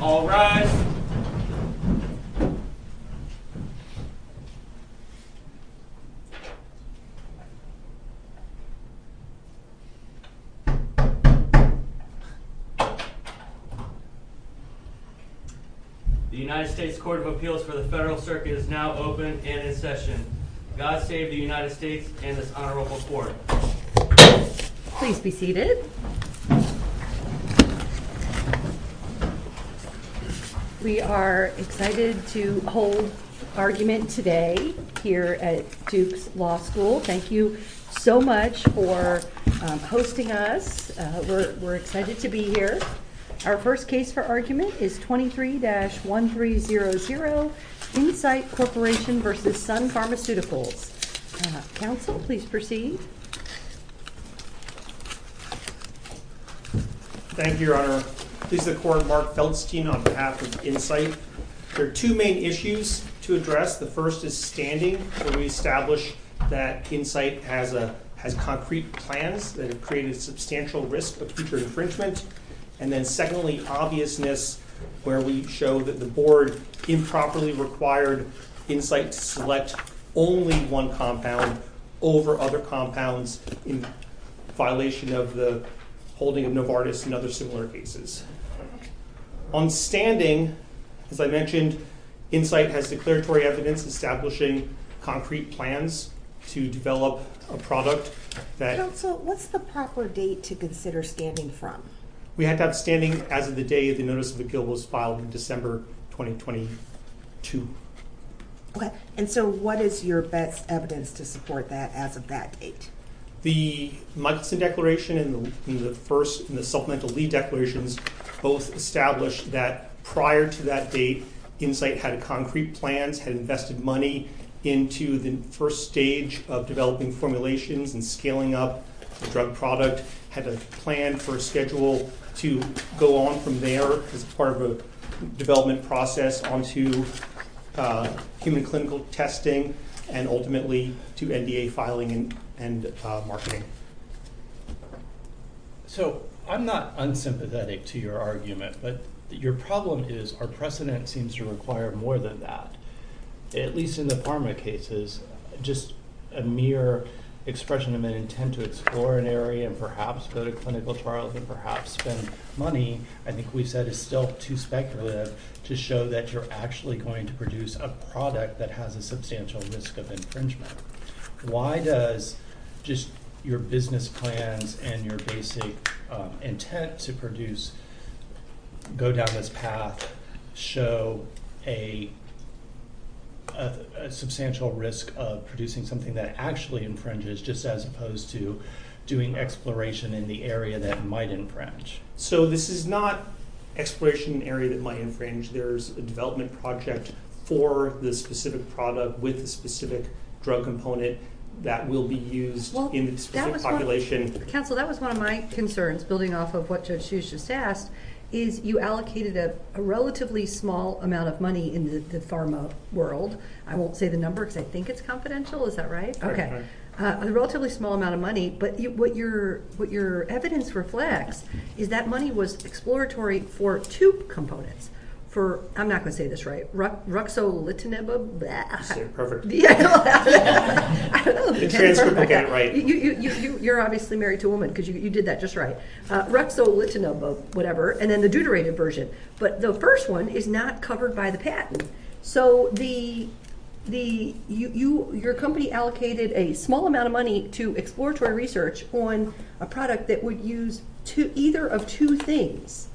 All rise. The United States Court of Appeals for the Federal Circuit is now open and in session. God save the United States and this honorable court. Please be seated. We are excited to hold argument today here at Duke's Law School. Thank you so much for hosting us. We're excited to be here. Our first case for argument is 23-1300, Incyte Corporation v. Sun Pharmaceuticals. Counsel, please proceed. Thank you, Your Honor. This is the court Mark Feldstein on behalf of Incyte. There are two main issues to address. The first is standing. We establish that Incyte has concrete plans that have created substantial risk of future infringement. And then secondly, obviousness where we show that the board improperly required Incyte to select only one compound over other compounds in violation of the holding of Novartis and other similar cases. On standing, as I mentioned, Incyte has declaratory evidence establishing concrete plans to develop a product that... Counsel, what's the proper date to consider standing from? We have that standing as of the day the notice of appeal was filed in December 2022. Okay. And so what is your best evidence to support that as of that date? The Michaelson Declaration and the first and the supplemental lead declarations both established that prior to that date, Incyte had concrete plans, had invested money into the first stage of developing formulations and scaling up the drug product, had a plan for schedule to go on from there as part of a development process onto human clinical testing and ultimately to NDA filing and marketing. So I'm not unsympathetic to your argument, but your problem is our precedent seems to require more than that. At least in the pharma cases, just a mere expression of an intent to explore an area and perhaps go to clinical trials and perhaps spend money, I think we've said is still too speculative to show that you're actually going to produce a product that has a substantial risk of infringement. Why does just your business plans and your basic intent to produce, go down this path, show a substantial risk of producing something that actually infringes just as opposed to doing exploration in the area that might infringe? So this is not exploration area that might infringe. There's a development project for the specific product with the specific drug component that will be used in the population. Counsel, that was one of my concerns building off of what Judge Hughes just asked, is you allocated a relatively small amount of money in the pharma world. I won't say the number because I think it's confidential. Is that right? Okay. A relatively small amount of money, but what your evidence reflects is that money was exploratory for two components. I'm not going to say this right. Ruxolitinib, bleh. Say it perfect. I don't know if I can say it perfect. You're obviously married to a woman because you did that just right. Ruxolitinib, whatever, and then the deuterated version. But the first one is not covered by the patent. So your company allocated a small amount of money to exploratory research on a product that would use either of two things,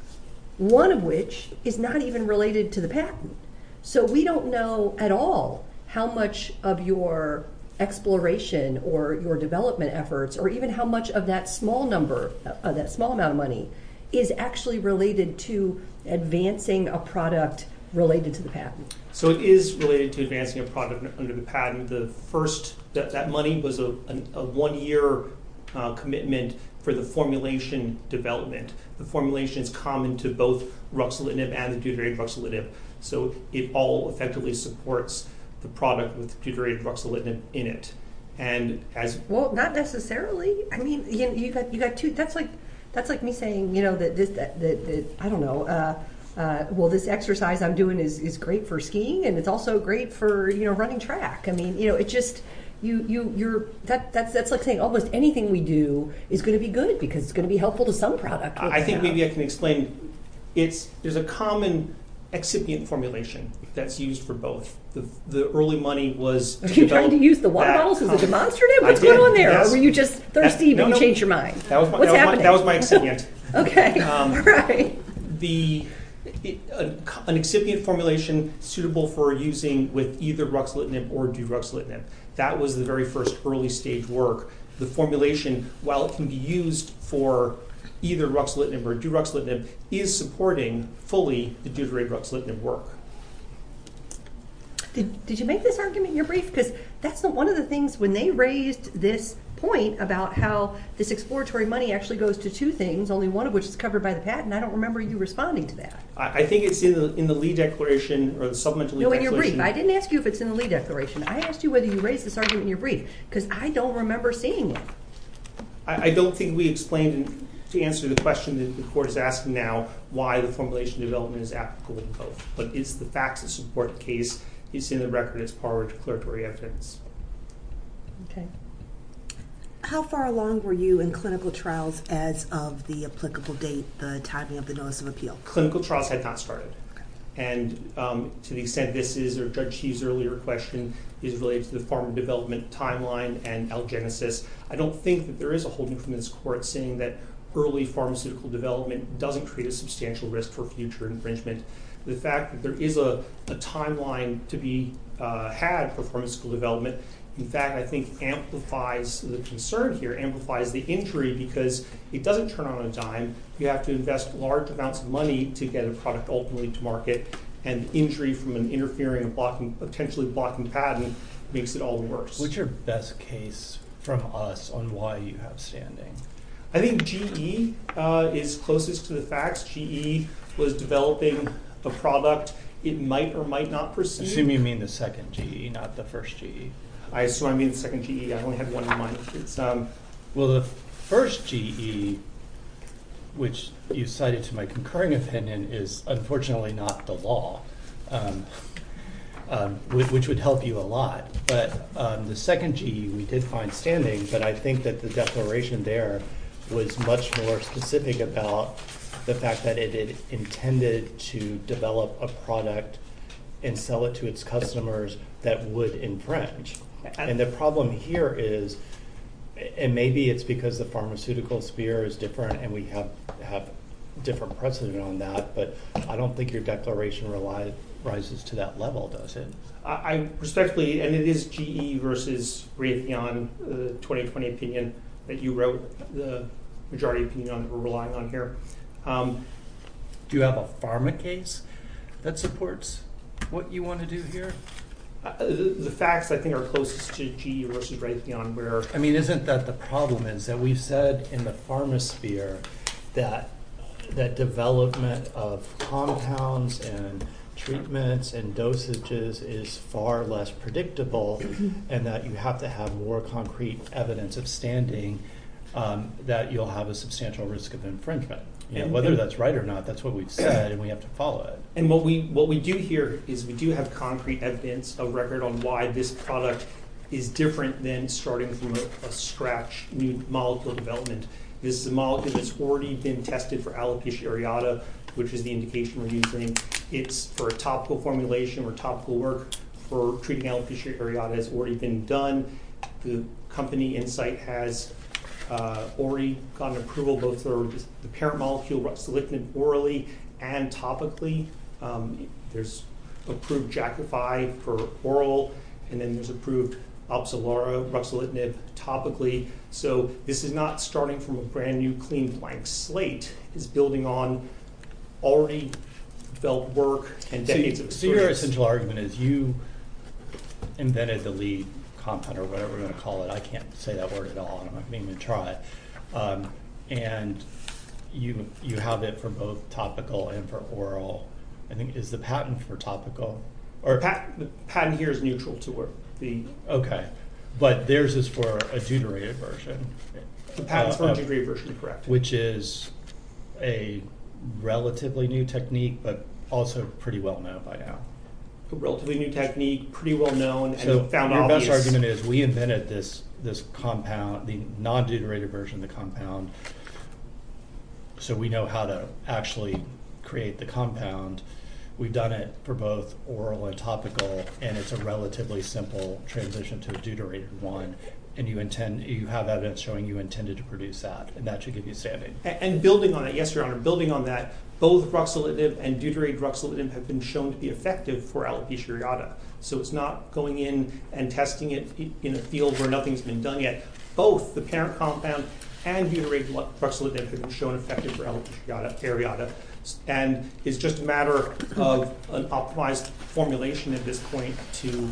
one of which is not even related to the patent. So we don't know at all how much of your exploration or your development efforts or even how much of that small amount of money is actually related to advancing a product related to the patent. So it is related to advancing a product under the patent. That money was a one-year commitment for the formulation development. The formulation is common to both Ruxolitinib and the deuterated Ruxolitinib. So it all effectively supports the product with deuterated Ruxolitinib in it. Well, not necessarily. That's like me saying that this exercise I'm doing is great for skiing and it's also great for running track. That's like saying almost anything we do is going to be good because it's going to be helpful to some product. I think maybe I can explain. There's a common excipient formulation that's used for both. Are you trying to use the water bottles as a demonstrative? What's going on there? Or were you just thirsty but you changed your mind? That was my excipient. An excipient formulation suitable for using with either Ruxolitinib or deuterated Ruxolitinib. That was the very first early stage work. The formulation, while it can be used for either Ruxolitinib or deuterated Ruxolitinib, is supporting fully the deuterated Ruxolitinib work. Did you make this argument in your brief? Because that's one of the things when they raised this point about how this exploratory money actually goes to two things, only one of which is covered by the patent. I don't remember you responding to that. I think it's in the lead declaration or the supplemental lead declaration. No, in your brief. I didn't ask you if it's in the lead declaration. I asked you whether you raised this argument in your brief because I don't remember seeing it. I don't think we explained to answer the question that the court is asking now why the formulation development is applicable in both. But it's the facts that support the case. It's in the record. It's part of the declaratory evidence. Okay. How far along were you in clinical trials as of the applicable date, the timing of the notice of appeal? Clinical trials had not started. And to the extent this is, or Judge Heath's earlier question is related to the form of development timeline and algenesis, I don't think that there is a holding from this court saying that early pharmaceutical development doesn't create a substantial risk for future infringement. The fact that there is a timeline to be had for pharmaceutical development, in fact, I think, amplifies the concern here, amplifies the injury because it doesn't turn on a dime. You have to invest large amounts of money to get a product ultimately to market. And injury from an interfering, potentially blocking patent makes it all the worse. What's your best case from us on why you have standing? I think GE is closest to the facts. GE was developing the product. It might or might not proceed. I assume you mean the second GE, not the first GE. I assume I mean the second GE. I only have one in mind. Well, the first GE, which you cited to my concurring opinion, is unfortunately not the law, which would help you a lot. But the second GE, we did find standing. But I think that the declaration there was much more specific about the fact that it intended to develop a product and sell it to its customers that would infringe. And the problem here is, and maybe it's because the pharmaceutical sphere is different and we have a different precedent on that, but I don't think your declaration rises to that level, does it? I respectfully, and it is GE versus Raytheon 2020 opinion that you wrote the majority opinion on that we're relying on here. Do you have a pharma case that supports what you want to do here? The facts, I think, are closest to GE versus Raytheon. I mean, isn't that the problem is that we've said in the pharma sphere that development of compounds and treatments and dosages is far less predictable and that you have to have more concrete evidence of standing that you'll have a substantial risk of infringement. Whether that's right or not, that's what we've said, and we have to follow it. And what we do here is we do have concrete evidence of record on why this product is different than starting from a scratch new molecule development. This is a molecule that's already been tested for alopecia areata, which is the indication we're using. It's for a topical formulation or topical work for treating alopecia areata has already been done. The company Insight has already gotten approval both for the parent molecule, ruxolitinib, orally and topically. There's approved jackified for oral, and then there's approved ruxolitinib topically. So this is not starting from a brand new clean blank slate. It's building on already felt work and decades of experience. So your essential argument is you invented the lead compound or whatever you want to call it. I can't say that word at all, and I'm not going to even try it. And you have it for both topical and for oral. I think it's the patent for topical. The patent here is neutral to the- Okay, but theirs is for a deuterated version. The patent's for a deuterated version, you're correct. Which is a relatively new technique, but also pretty well-known by now. A relatively new technique, pretty well-known, and you found all these- So your best argument is we invented this compound, the non-deuterated version of the compound, so we know how to actually create the compound. We've done it for both oral and topical, and it's a relatively simple transition to a deuterated one. And you have evidence showing you intended to produce that, and that should give you a standing. And building on that, yes, Your Honor, building on that, both ruxolitinib and deuterated ruxolitinib have been shown to be effective for alopecia areata. So it's not going in and testing it in a field where nothing's been done yet. Both the parent compound and deuterated ruxolitinib have been shown effective for alopecia areata. And it's just a matter of an optimized formulation at this point to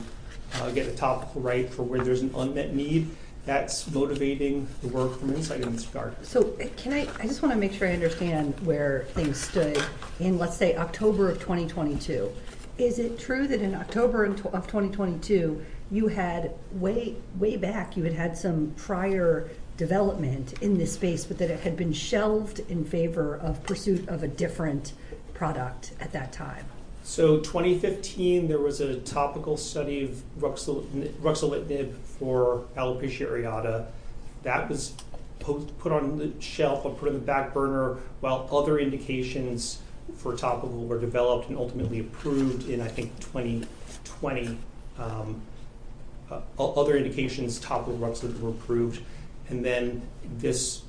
get a topical right for where there's an unmet need. That's motivating the work from insight in this regard. So can I- I just want to make sure I understand where things stood in, let's say, October of 2022. Is it true that in October of 2022, you had way, way back, you had had some prior development in this space, but that it had been shelved in favor of pursuit of a different product at that time? So 2015, there was a topical study of ruxolitinib for alopecia areata. That was put on the shelf or put on the back burner while other indications for topical were developed and ultimately approved in, I think, 2020. Other indications topical ruxolitinib were approved. And then this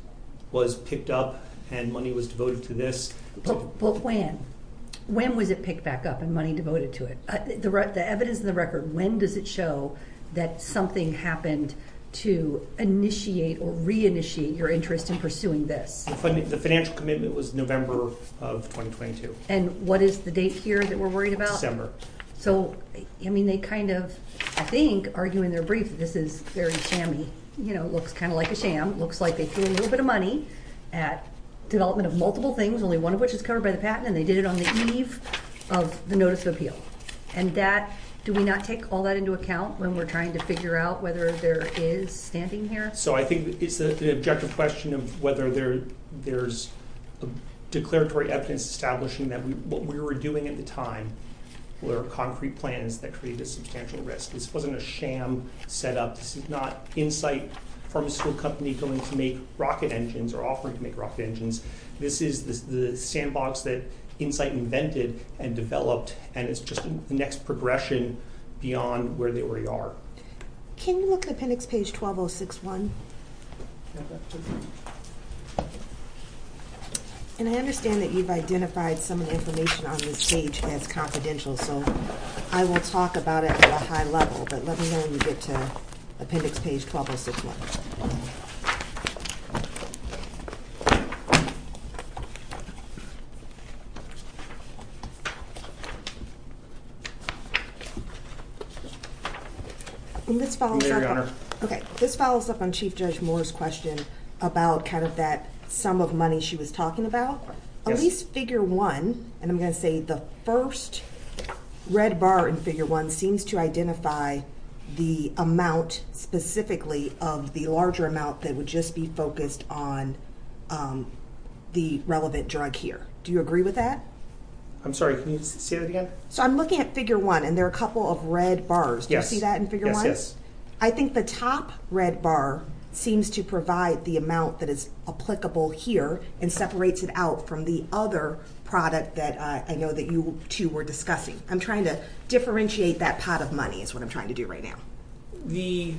was picked up and money was devoted to this. But when? When was it picked back up and money devoted to it? The evidence in the record, when does it show that something happened to initiate or reinitiate your interest in pursuing this? The financial commitment was November of 2022. And what is the date here that we're worried about? So, I mean, they kind of, I think, argue in their brief that this is very shammy. You know, it looks kind of like a sham. It looks like they threw a little bit of money at development of multiple things, only one of which is covered by the patent, and they did it on the eve of the notice of appeal. And that, do we not take all that into account when we're trying to figure out whether there is standing here? So I think it's the objective question of whether there's declaratory evidence establishing that what we were doing at the time were concrete plans that created a substantial risk. This wasn't a sham setup. This is not Insight Pharmaceutical Company going to make rocket engines or offering to make rocket engines. This is the sandbox that Insight invented and developed, and it's just the next progression beyond where they already are. Can you look at appendix page 12061? And I understand that you've identified some of the information on this page as confidential, so I will talk about it at a high level. But let me know when you get to appendix page 12061. And this follows up on Chief Judge Moore's question about kind of that sum of money she was talking about. At least figure one, and I'm going to say the first red bar in figure one, seems to identify the amount specifically of the larger amount that would just be focused on the relevant drug here. Do you agree with that? I'm sorry, can you say that again? So I'm looking at figure one, and there are a couple of red bars. Do you see that in figure one? Yes, yes. I think the top red bar seems to provide the amount that is applicable here and separates it out from the other product that I know that you two were discussing. I'm trying to differentiate that pot of money is what I'm trying to do right now. The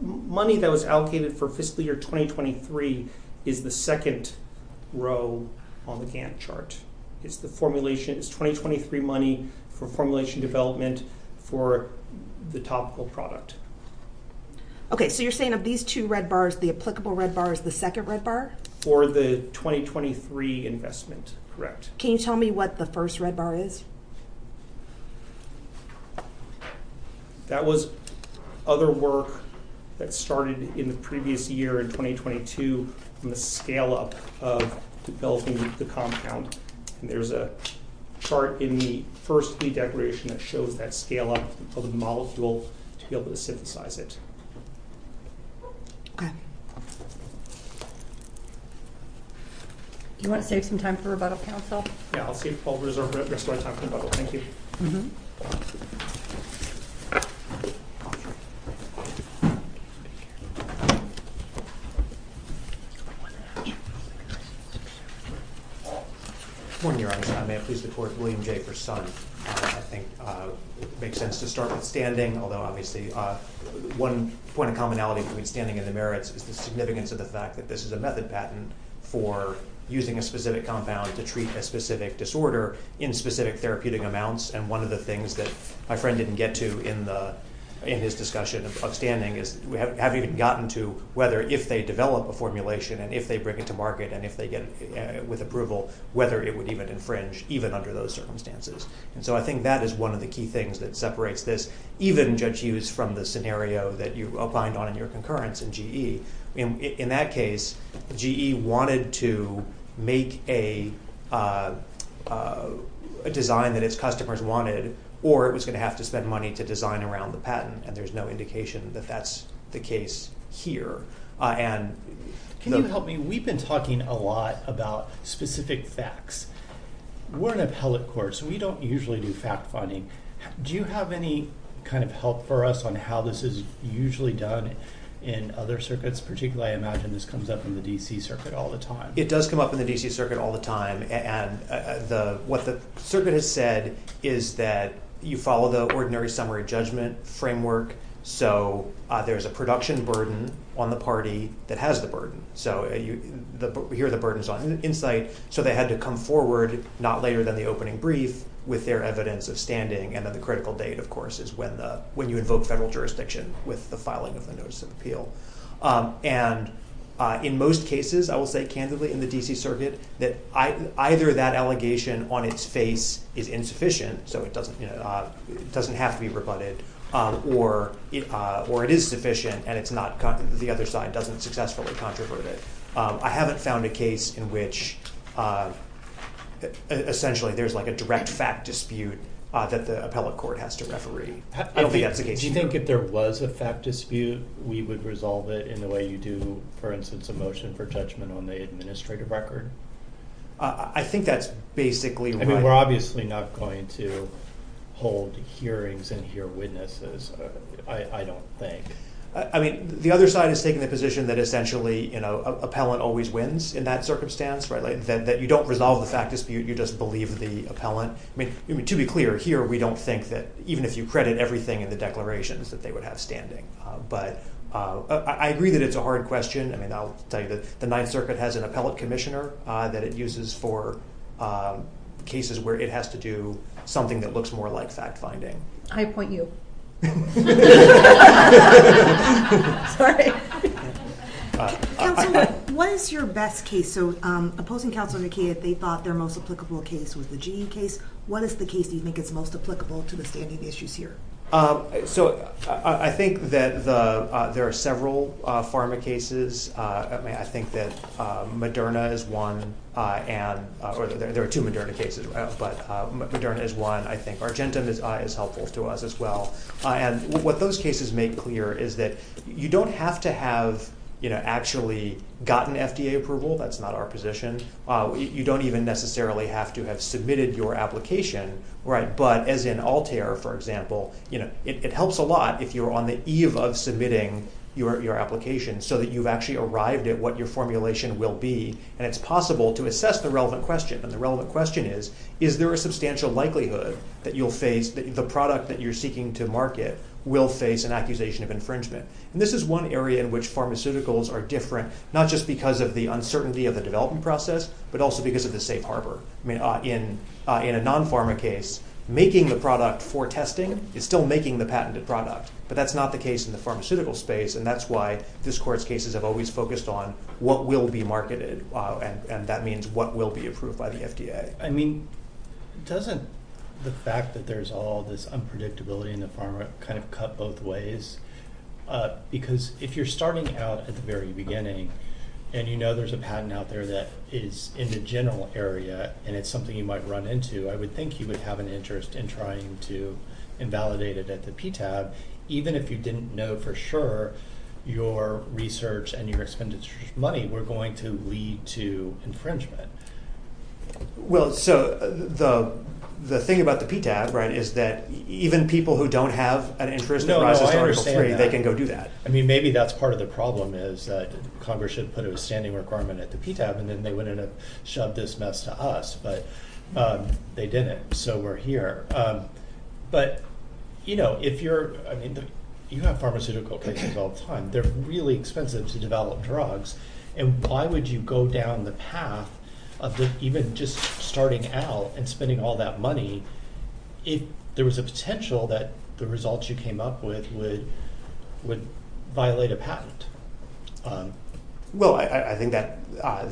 money that was allocated for fiscal year 2023 is the second row on the Gantt chart. It's the formulation, it's 2023 money for formulation development for the topical product. Okay, so you're saying of these two red bars, the applicable red bar is the second red bar? For the 2023 investment, correct. Can you tell me what the first red bar is? That was other work that started in the previous year in 2022 on the scale-up of developing the compound. And there's a chart in the first lead declaration that shows that scale-up of the molecule to be able to synthesize it. Do you want to save some time for rebuttal, counsel? Yeah, I'll save all the rest of my time for rebuttal. Thank you. Thank you. Good morning, Your Honor. May it please the court, William J. Persun. I think it makes sense to start with standing, although obviously one point of commonality between standing and the merits is the significance of the fact that this is a method patent for using a specific compound to treat a specific disorder in specific therapeutic amounts. And one of the things that my friend didn't get to in his discussion of standing is we haven't even gotten to whether if they develop a formulation and if they bring it to market and if they get it with approval, whether it would even infringe, even under those circumstances. And so I think that is one of the key things that separates this, even, Judge Hughes, from the scenario that you opined on in your concurrence in GE. In that case, GE wanted to make a design that its customers wanted, or it was going to have to spend money to design around the patent. And there's no indication that that's the case here. Can you help me? We've been talking a lot about specific facts. We're an appellate court, so we don't usually do fact-finding. Do you have any kind of help for us on how this is usually done in other circuits? Particularly, I imagine this comes up in the D.C. Circuit all the time. It does come up in the D.C. Circuit all the time. And what the circuit has said is that you follow the ordinary summary judgment framework. So there is a production burden on the party that has the burden. So here are the burdens on Insight. So they had to come forward not later than the opening brief with their evidence of standing. And then the critical date, of course, is when you invoke federal jurisdiction with the filing of the Notice of Appeal. And in most cases, I will say candidly in the D.C. Circuit, that either that allegation on its face is insufficient, so it doesn't have to be rebutted, or it is sufficient and the other side doesn't successfully controvert it. I haven't found a case in which essentially there's like a direct fact dispute that the appellate court has to referee. I don't think that's the case. Do you think if there was a fact dispute, we would resolve it in the way you do, for instance, a motion for judgment on the administrative record? I think that's basically right. And we're obviously not going to hold hearings and hear witnesses, I don't think. I mean, the other side is taking the position that essentially, you know, appellant always wins in that circumstance, right? That you don't resolve the fact dispute, you just believe the appellant. I mean, to be clear, here we don't think that even if you credit everything in the declarations that they would have standing. But I agree that it's a hard question. I mean, I'll tell you that the Ninth Circuit has an appellate commissioner that it uses for cases where it has to do something that looks more like fact finding. I appoint you. Counselor, what is your best case? So opposing Counselor Nakia, they thought their most applicable case was the GE case. What is the case that you think is most applicable to the standing issues here? So I think that there are several pharma cases. I mean, I think that Moderna is one. And there are two Moderna cases, but Moderna is one. I think Argentum is helpful to us as well. And what those cases make clear is that you don't have to have, you know, actually gotten FDA approval. That's not our position. You don't even necessarily have to have submitted your application. Right. But as in Altair, for example, you know, it helps a lot if you're on the eve of submitting your application so that you've actually arrived at what your formulation will be. And it's possible to assess the relevant question. And the relevant question is, is there a substantial likelihood that you'll face the product that you're seeking to market will face an accusation of infringement? And this is one area in which pharmaceuticals are different, not just because of the uncertainty of the development process, but also because of the safe harbor. I mean, in a non-pharma case, making the product for testing is still making the patented product. But that's not the case in the pharmaceutical space. And that's why this court's cases have always focused on what will be marketed, and that means what will be approved by the FDA. I mean, doesn't the fact that there's all this unpredictability in the pharma kind of cut both ways? Because if you're starting out at the very beginning, and you know there's a patent out there that is in the general area, and it's something you might run into, I would think you would have an interest in trying to invalidate it at the PTAB, even if you didn't know for sure your research and your expenditure money were going to lead to infringement. Well, so the thing about the PTAB, right, is that even people who don't have an interest in the pharmaceutical space… I mean, maybe that's part of the problem, is that Congress should have put a standing requirement at the PTAB, and then they wouldn't have shoved this mess to us. But they didn't, so we're here. But, you know, if you're – I mean, you have pharmaceutical cases all the time. They're really expensive to develop drugs, and why would you go down the path of even just starting out and spending all that money if there was a potential that the results you came up with would violate a patent? Well, I think that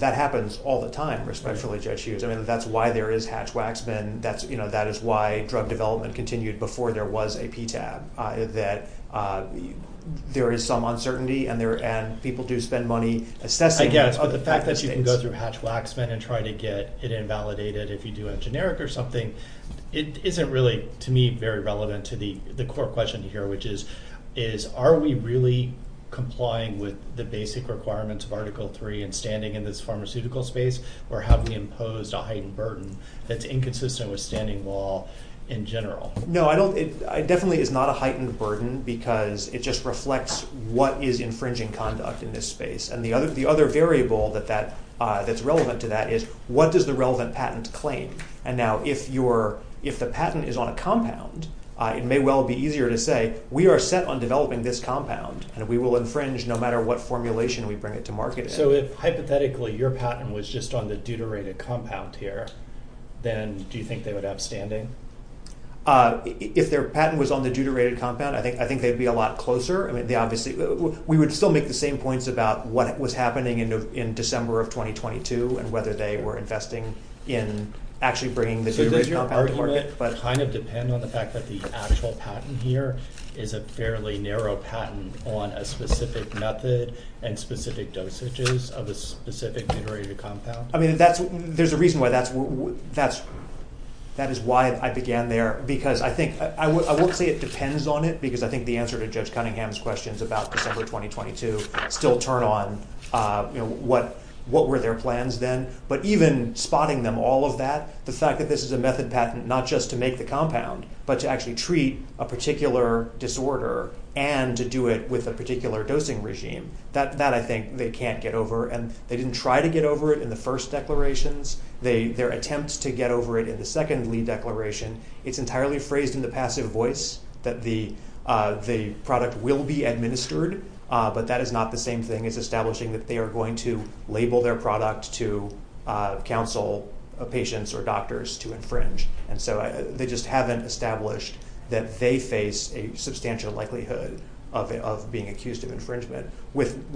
happens all the time, respectfully, Judge Hughes. I mean, that's why there is Hatch-Waxman. That is why drug development continued before there was a PTAB, that there is some uncertainty, and people do spend money assessing… I guess, but the fact that you can go through Hatch-Waxman and try to get it invalidated if you do a generic or something, it isn't really, to me, very relevant to the core question here, which is, are we really complying with the basic requirements of Article III in standing in this pharmaceutical space, or have we imposed a heightened burden that's inconsistent with standing law in general? No, I don't – it definitely is not a heightened burden because it just reflects what is infringing conduct in this space. And the other variable that's relevant to that is, what does the relevant patent claim? And now, if the patent is on a compound, it may well be easier to say, we are set on developing this compound, and we will infringe no matter what formulation we bring it to market in. So if, hypothetically, your patent was just on the deuterated compound here, then do you think they would have standing? If their patent was on the deuterated compound, I think they'd be a lot closer. I mean, they obviously – we would still make the same points about what was happening in December of 2022 and whether they were investing in actually bringing the deuterated compound to market. So does your argument kind of depend on the fact that the actual patent here is a fairly narrow patent on a specific method and specific dosages of a specific deuterated compound? I mean, that's – there's a reason why that's – that is why I began there, because I think – I won't say it depends on it, because I think the answer to Judge Cunningham's questions about December 2022 still turn on, you know, what were their plans then. But even spotting them all of that, the fact that this is a method patent not just to make the compound, but to actually treat a particular disorder and to do it with a particular dosing regime, that I think they can't get over. And they didn't try to get over it in the first declarations. Their attempt to get over it in the second lead declaration, it's entirely phrased in the passive voice that the product will be administered, but that is not the same thing as establishing that they are going to label their product to counsel patients or doctors to infringe. And so they just haven't established that they face a substantial likelihood of being accused of infringement, even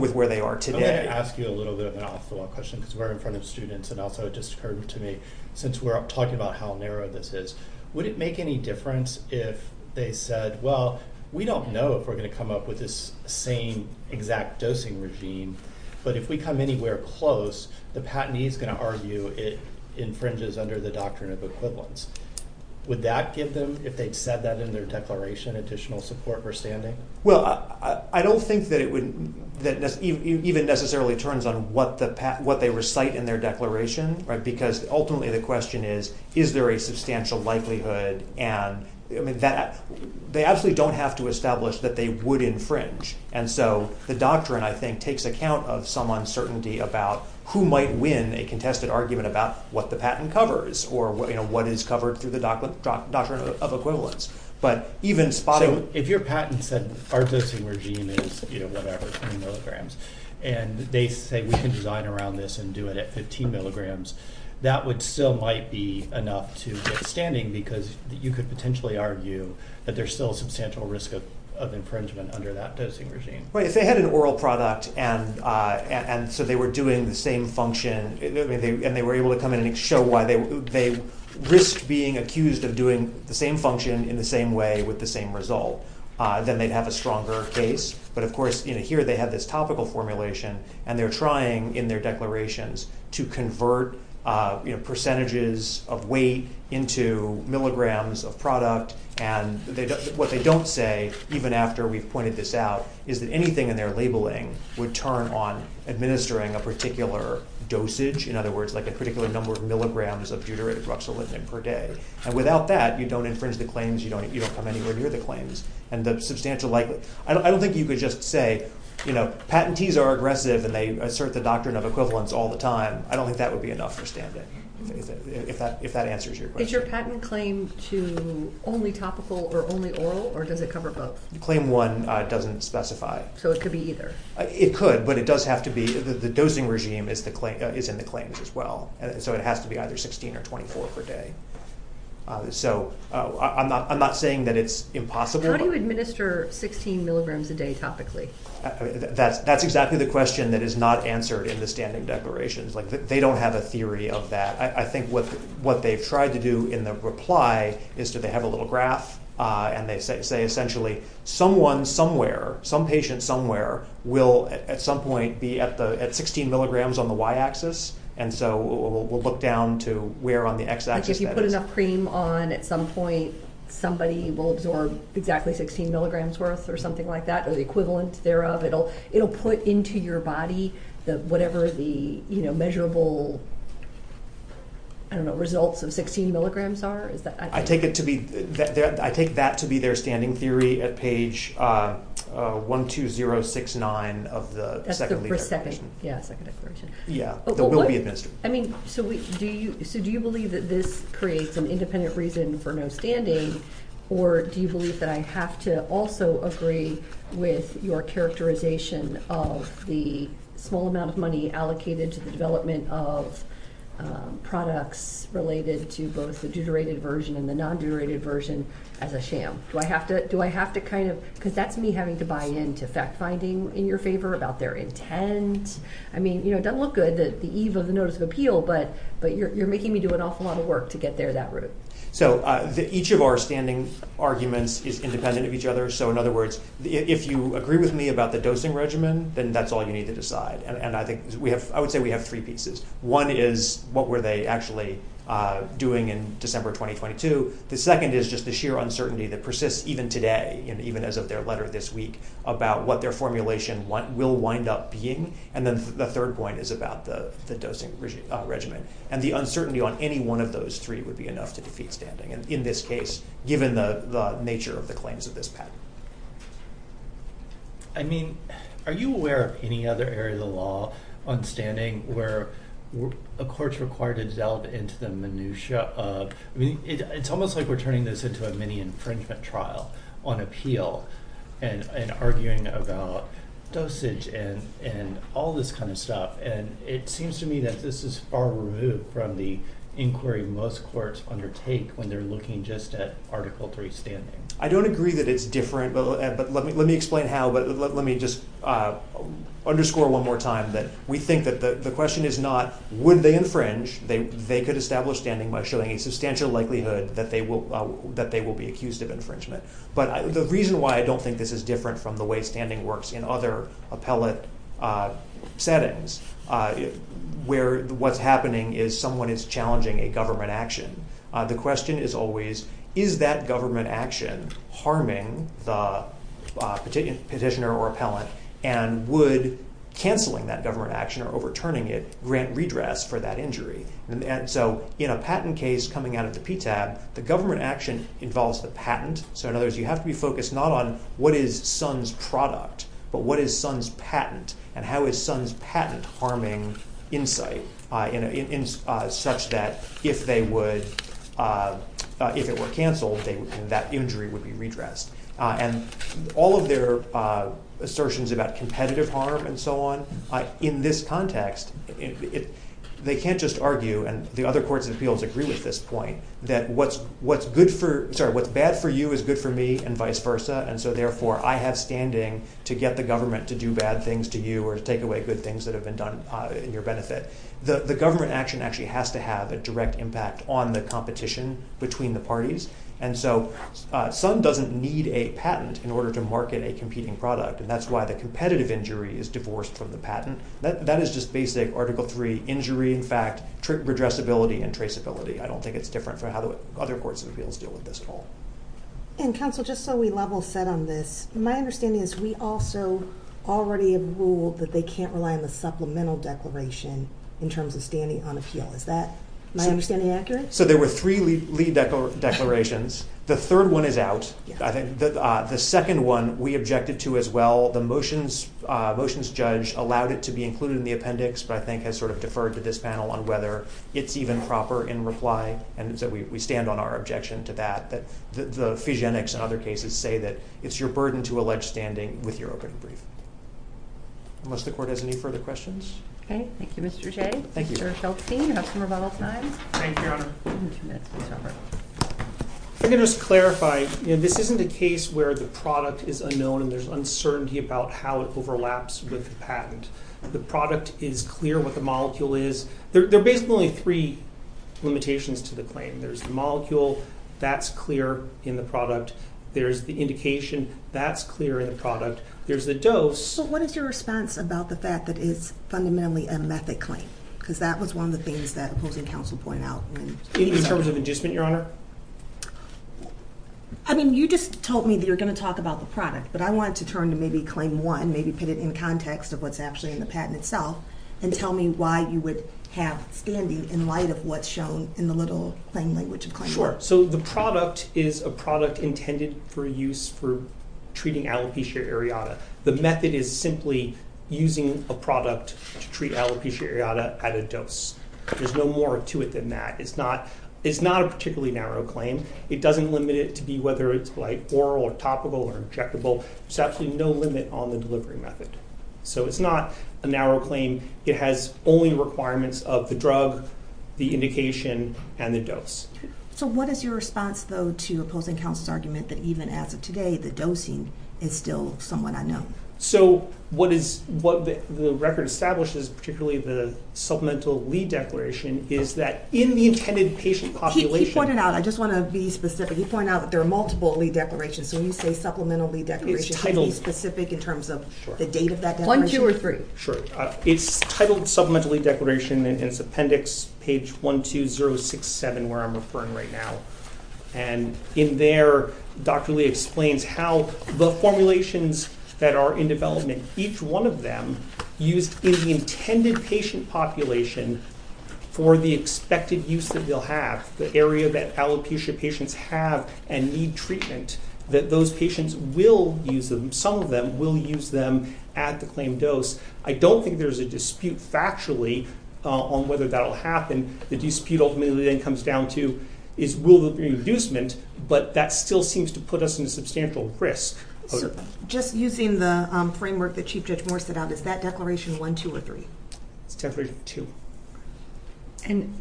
with where they are today. I want to ask you a little bit of an off-the-wall question, because we're in front of students, and also it just occurred to me, since we're talking about how narrow this is, would it make any difference if they said, well, we don't know if we're going to come up with this same exact dosing regime, but if we come anywhere close, the patentee is going to argue it infringes under the doctrine of equivalence. Would that give them, if they'd said that in their declaration, additional support or standing? Well, I don't think that it even necessarily turns on what they recite in their declaration, because ultimately the question is, is there a substantial likelihood? And they absolutely don't have to establish that they would infringe. And so the doctrine, I think, takes account of some uncertainty about who might win a contested argument about what the patent covers or what is covered through the doctrine of equivalence. So if your patent said our dosing regime is, you know, whatever, 10 milligrams, and they say we can design around this and do it at 15 milligrams, that still might be enough to get standing, because you could potentially argue that there's still a substantial risk of infringement under that dosing regime. Right. If they had an oral product, and so they were doing the same function, and they were able to come in and show why they risked being accused of doing the same function in the same way with the same result, then they'd have a stronger case. But, of course, here they have this topical formulation, and they're trying in their declarations to convert percentages of weight into milligrams of product. And what they don't say, even after we've pointed this out, is that anything in their labeling would turn on administering a particular dosage, in other words, like a particular number of milligrams of deuterated ruxolithin per day. And without that, you don't infringe the claims. You don't come anywhere near the claims. And I don't think you could just say, you know, patentees are aggressive, and they assert the doctrine of equivalence all the time. I don't think that would be enough for standing, if that answers your question. Is your patent claim to only topical or only oral, or does it cover both? Claim one doesn't specify. So it could be either. It could, but it does have to be. The dosing regime is in the claims as well, so it has to be either 16 or 24 per day. So I'm not saying that it's impossible. How do you administer 16 milligrams a day topically? That's exactly the question that is not answered in the standing declarations. Like, they don't have a theory of that. I think what they've tried to do in the reply is that they have a little graph, and they say, essentially, someone somewhere, some patient somewhere, will at some point be at 16 milligrams on the y-axis, and so we'll look down to where on the x-axis that is. Like, if you put enough cream on, at some point, somebody will absorb exactly 16 milligrams worth or something like that, or the equivalent thereof. It will put into your body whatever the measurable, I don't know, results of 16 milligrams are. I take that to be their standing theory at page 12069 of the second declaration. That's the second declaration. Yeah, the will be administered. I mean, so do you believe that this creates an independent reason for no standing, or do you believe that I have to also agree with your characterization of the small amount of money allocated to the development of products related to both the deuterated version and the non-deuterated version as a sham? Do I have to kind of – because that's me having to buy into fact-finding in your favor about their intent. I mean, it doesn't look good, the eve of the notice of appeal, but you're making me do an awful lot of work to get there that route. So each of our standing arguments is independent of each other. So, in other words, if you agree with me about the dosing regimen, then that's all you need to decide. And I would say we have three pieces. One is what were they actually doing in December 2022. The second is just the sheer uncertainty that persists even today and even as of their letter this week about what their formulation will wind up being. And then the third point is about the dosing regimen and the uncertainty on any one of those three would be enough to defeat standing, in this case, given the nature of the claims of this patent. I mean, are you aware of any other area of the law on standing where a court's required to delve into the minutiae of – I mean, it's almost like we're turning this into a mini-infringement trial on appeal and arguing about dosage and all this kind of stuff. And it seems to me that this is far removed from the inquiry most courts undertake when they're looking just at Article III standing. I don't agree that it's different, but let me explain how. But let me just underscore one more time that we think that the question is not would they infringe. They could establish standing by showing a substantial likelihood that they will be accused of infringement. But the reason why I don't think this is different from the way standing works in other appellate settings where what's happening is someone is challenging a government action. The question is always is that government action harming the petitioner or appellant, and would canceling that government action or overturning it grant redress for that injury? And so in a patent case coming out of the PTAB, the government action involves the patent. So in other words, you have to be focused not on what is Sun's product, but what is Sun's patent, and how is Sun's patent harming insight such that if it were canceled, that injury would be redressed. And all of their assertions about competitive harm and so on, in this context, they can't just argue, and the other courts of appeals agree with this point, that what's bad for you is good for me and vice versa. And so therefore, I have standing to get the government to do bad things to you or take away good things that have been done in your benefit. The government action actually has to have a direct impact on the competition between the parties. And so Sun doesn't need a patent in order to market a competing product. And that's why the competitive injury is divorced from the patent. That is just basic Article III injury, in fact, redressability and traceability. I don't think it's different from how the other courts of appeals deal with this at all. And counsel, just so we level set on this, my understanding is we also already have ruled that they can't rely on the supplemental declaration in terms of standing on appeal. Is that my understanding accurate? So there were three lead declarations. The third one is out. I think the second one we objected to as well. The motions judge allowed it to be included in the appendix, but I think has sort of deferred to this panel on whether it's even proper in reply. And so we stand on our objection to that, that the physionics and other cases say that it's your burden to allege standing with your open brief. Unless the court has any further questions. Thank you, Mr. J. Thank you. I'm going to clarify this isn't a case where the product is unknown and there's uncertainty about how it overlaps with the patent. The product is clear what the molecule is. There are basically three limitations to the claim. There's the molecule that's clear in the product. There's the indication that's clear in the product. There's the dose. So what is your response about the fact that it's fundamentally a method claim? Because that was one of the things that opposing counsel point out in terms of inducement, Your Honor. I mean, you just told me that you're going to talk about the product, but I want to turn to maybe claim one, maybe put it in context of what's actually in the patent itself. And tell me why you would have standing in light of what's shown in the little plain language of claim. Sure. So the product is a product intended for use for treating alopecia areata. The method is simply using a product to treat alopecia areata at a dose. There's no more to it than that. It's not it's not a particularly narrow claim. It doesn't limit it to be whether it's like oral or topical or injectable. There's absolutely no limit on the delivery method. So it's not a narrow claim. It has only requirements of the drug, the indication, and the dose. So what is your response, though, to opposing counsel's argument that even as of today, the dosing is still somewhat unknown? So what is what the record establishes, particularly the supplemental lead declaration, is that in the intended patient population. He pointed out, I just want to be specific. He pointed out that there are multiple lead declarations. When you say supplemental lead declaration, can you be specific in terms of the date of that declaration? One, two, or three. Sure. It's titled supplemental lead declaration. It's appendix page 12067, where I'm referring right now. And in there, Dr. Lee explains how the formulations that are in development, each one of them used in the intended patient population for the expected use that they'll have. The area that alopecia patients have and need treatment, that those patients will use them. Some of them will use them at the claimed dose. I don't think there's a dispute factually on whether that will happen. The dispute ultimately then comes down to is will there be a reducement. But that still seems to put us in a substantial risk. Just using the framework that Chief Judge Moore set out, is that declaration one, two, or three? It's declaration two. And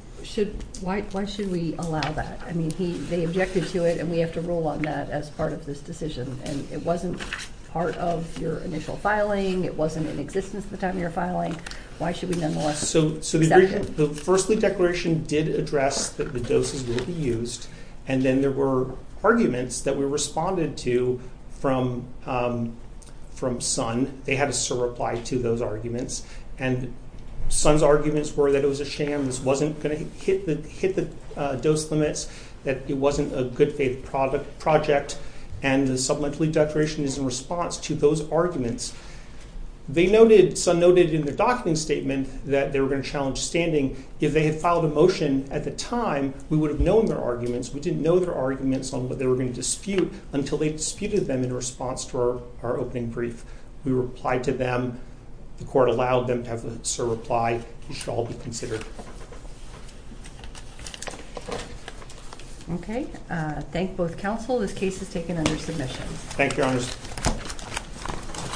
why should we allow that? I mean, they objected to it, and we have to rule on that as part of this decision. And it wasn't part of your initial filing. It wasn't in existence at the time of your filing. Why should we nonetheless accept it? So the first lead declaration did address that the doses will be used. And then there were arguments that were responded to from Sun. They had a surreply to those arguments. And Sun's arguments were that it was a sham, this wasn't going to hit the dose limits, that it wasn't a good faith project. And the supplemental lead declaration is in response to those arguments. Sun noted in the document statement that they were going to challenge standing. If they had filed a motion at the time, we would have known their arguments. We didn't know their arguments on what they were going to dispute until they disputed them in response to our opening brief. We replied to them. The court allowed them to have the surreply. It should all be considered. Okay. Thank both counsel. This case is taken under submission. Thank you, Your Honor.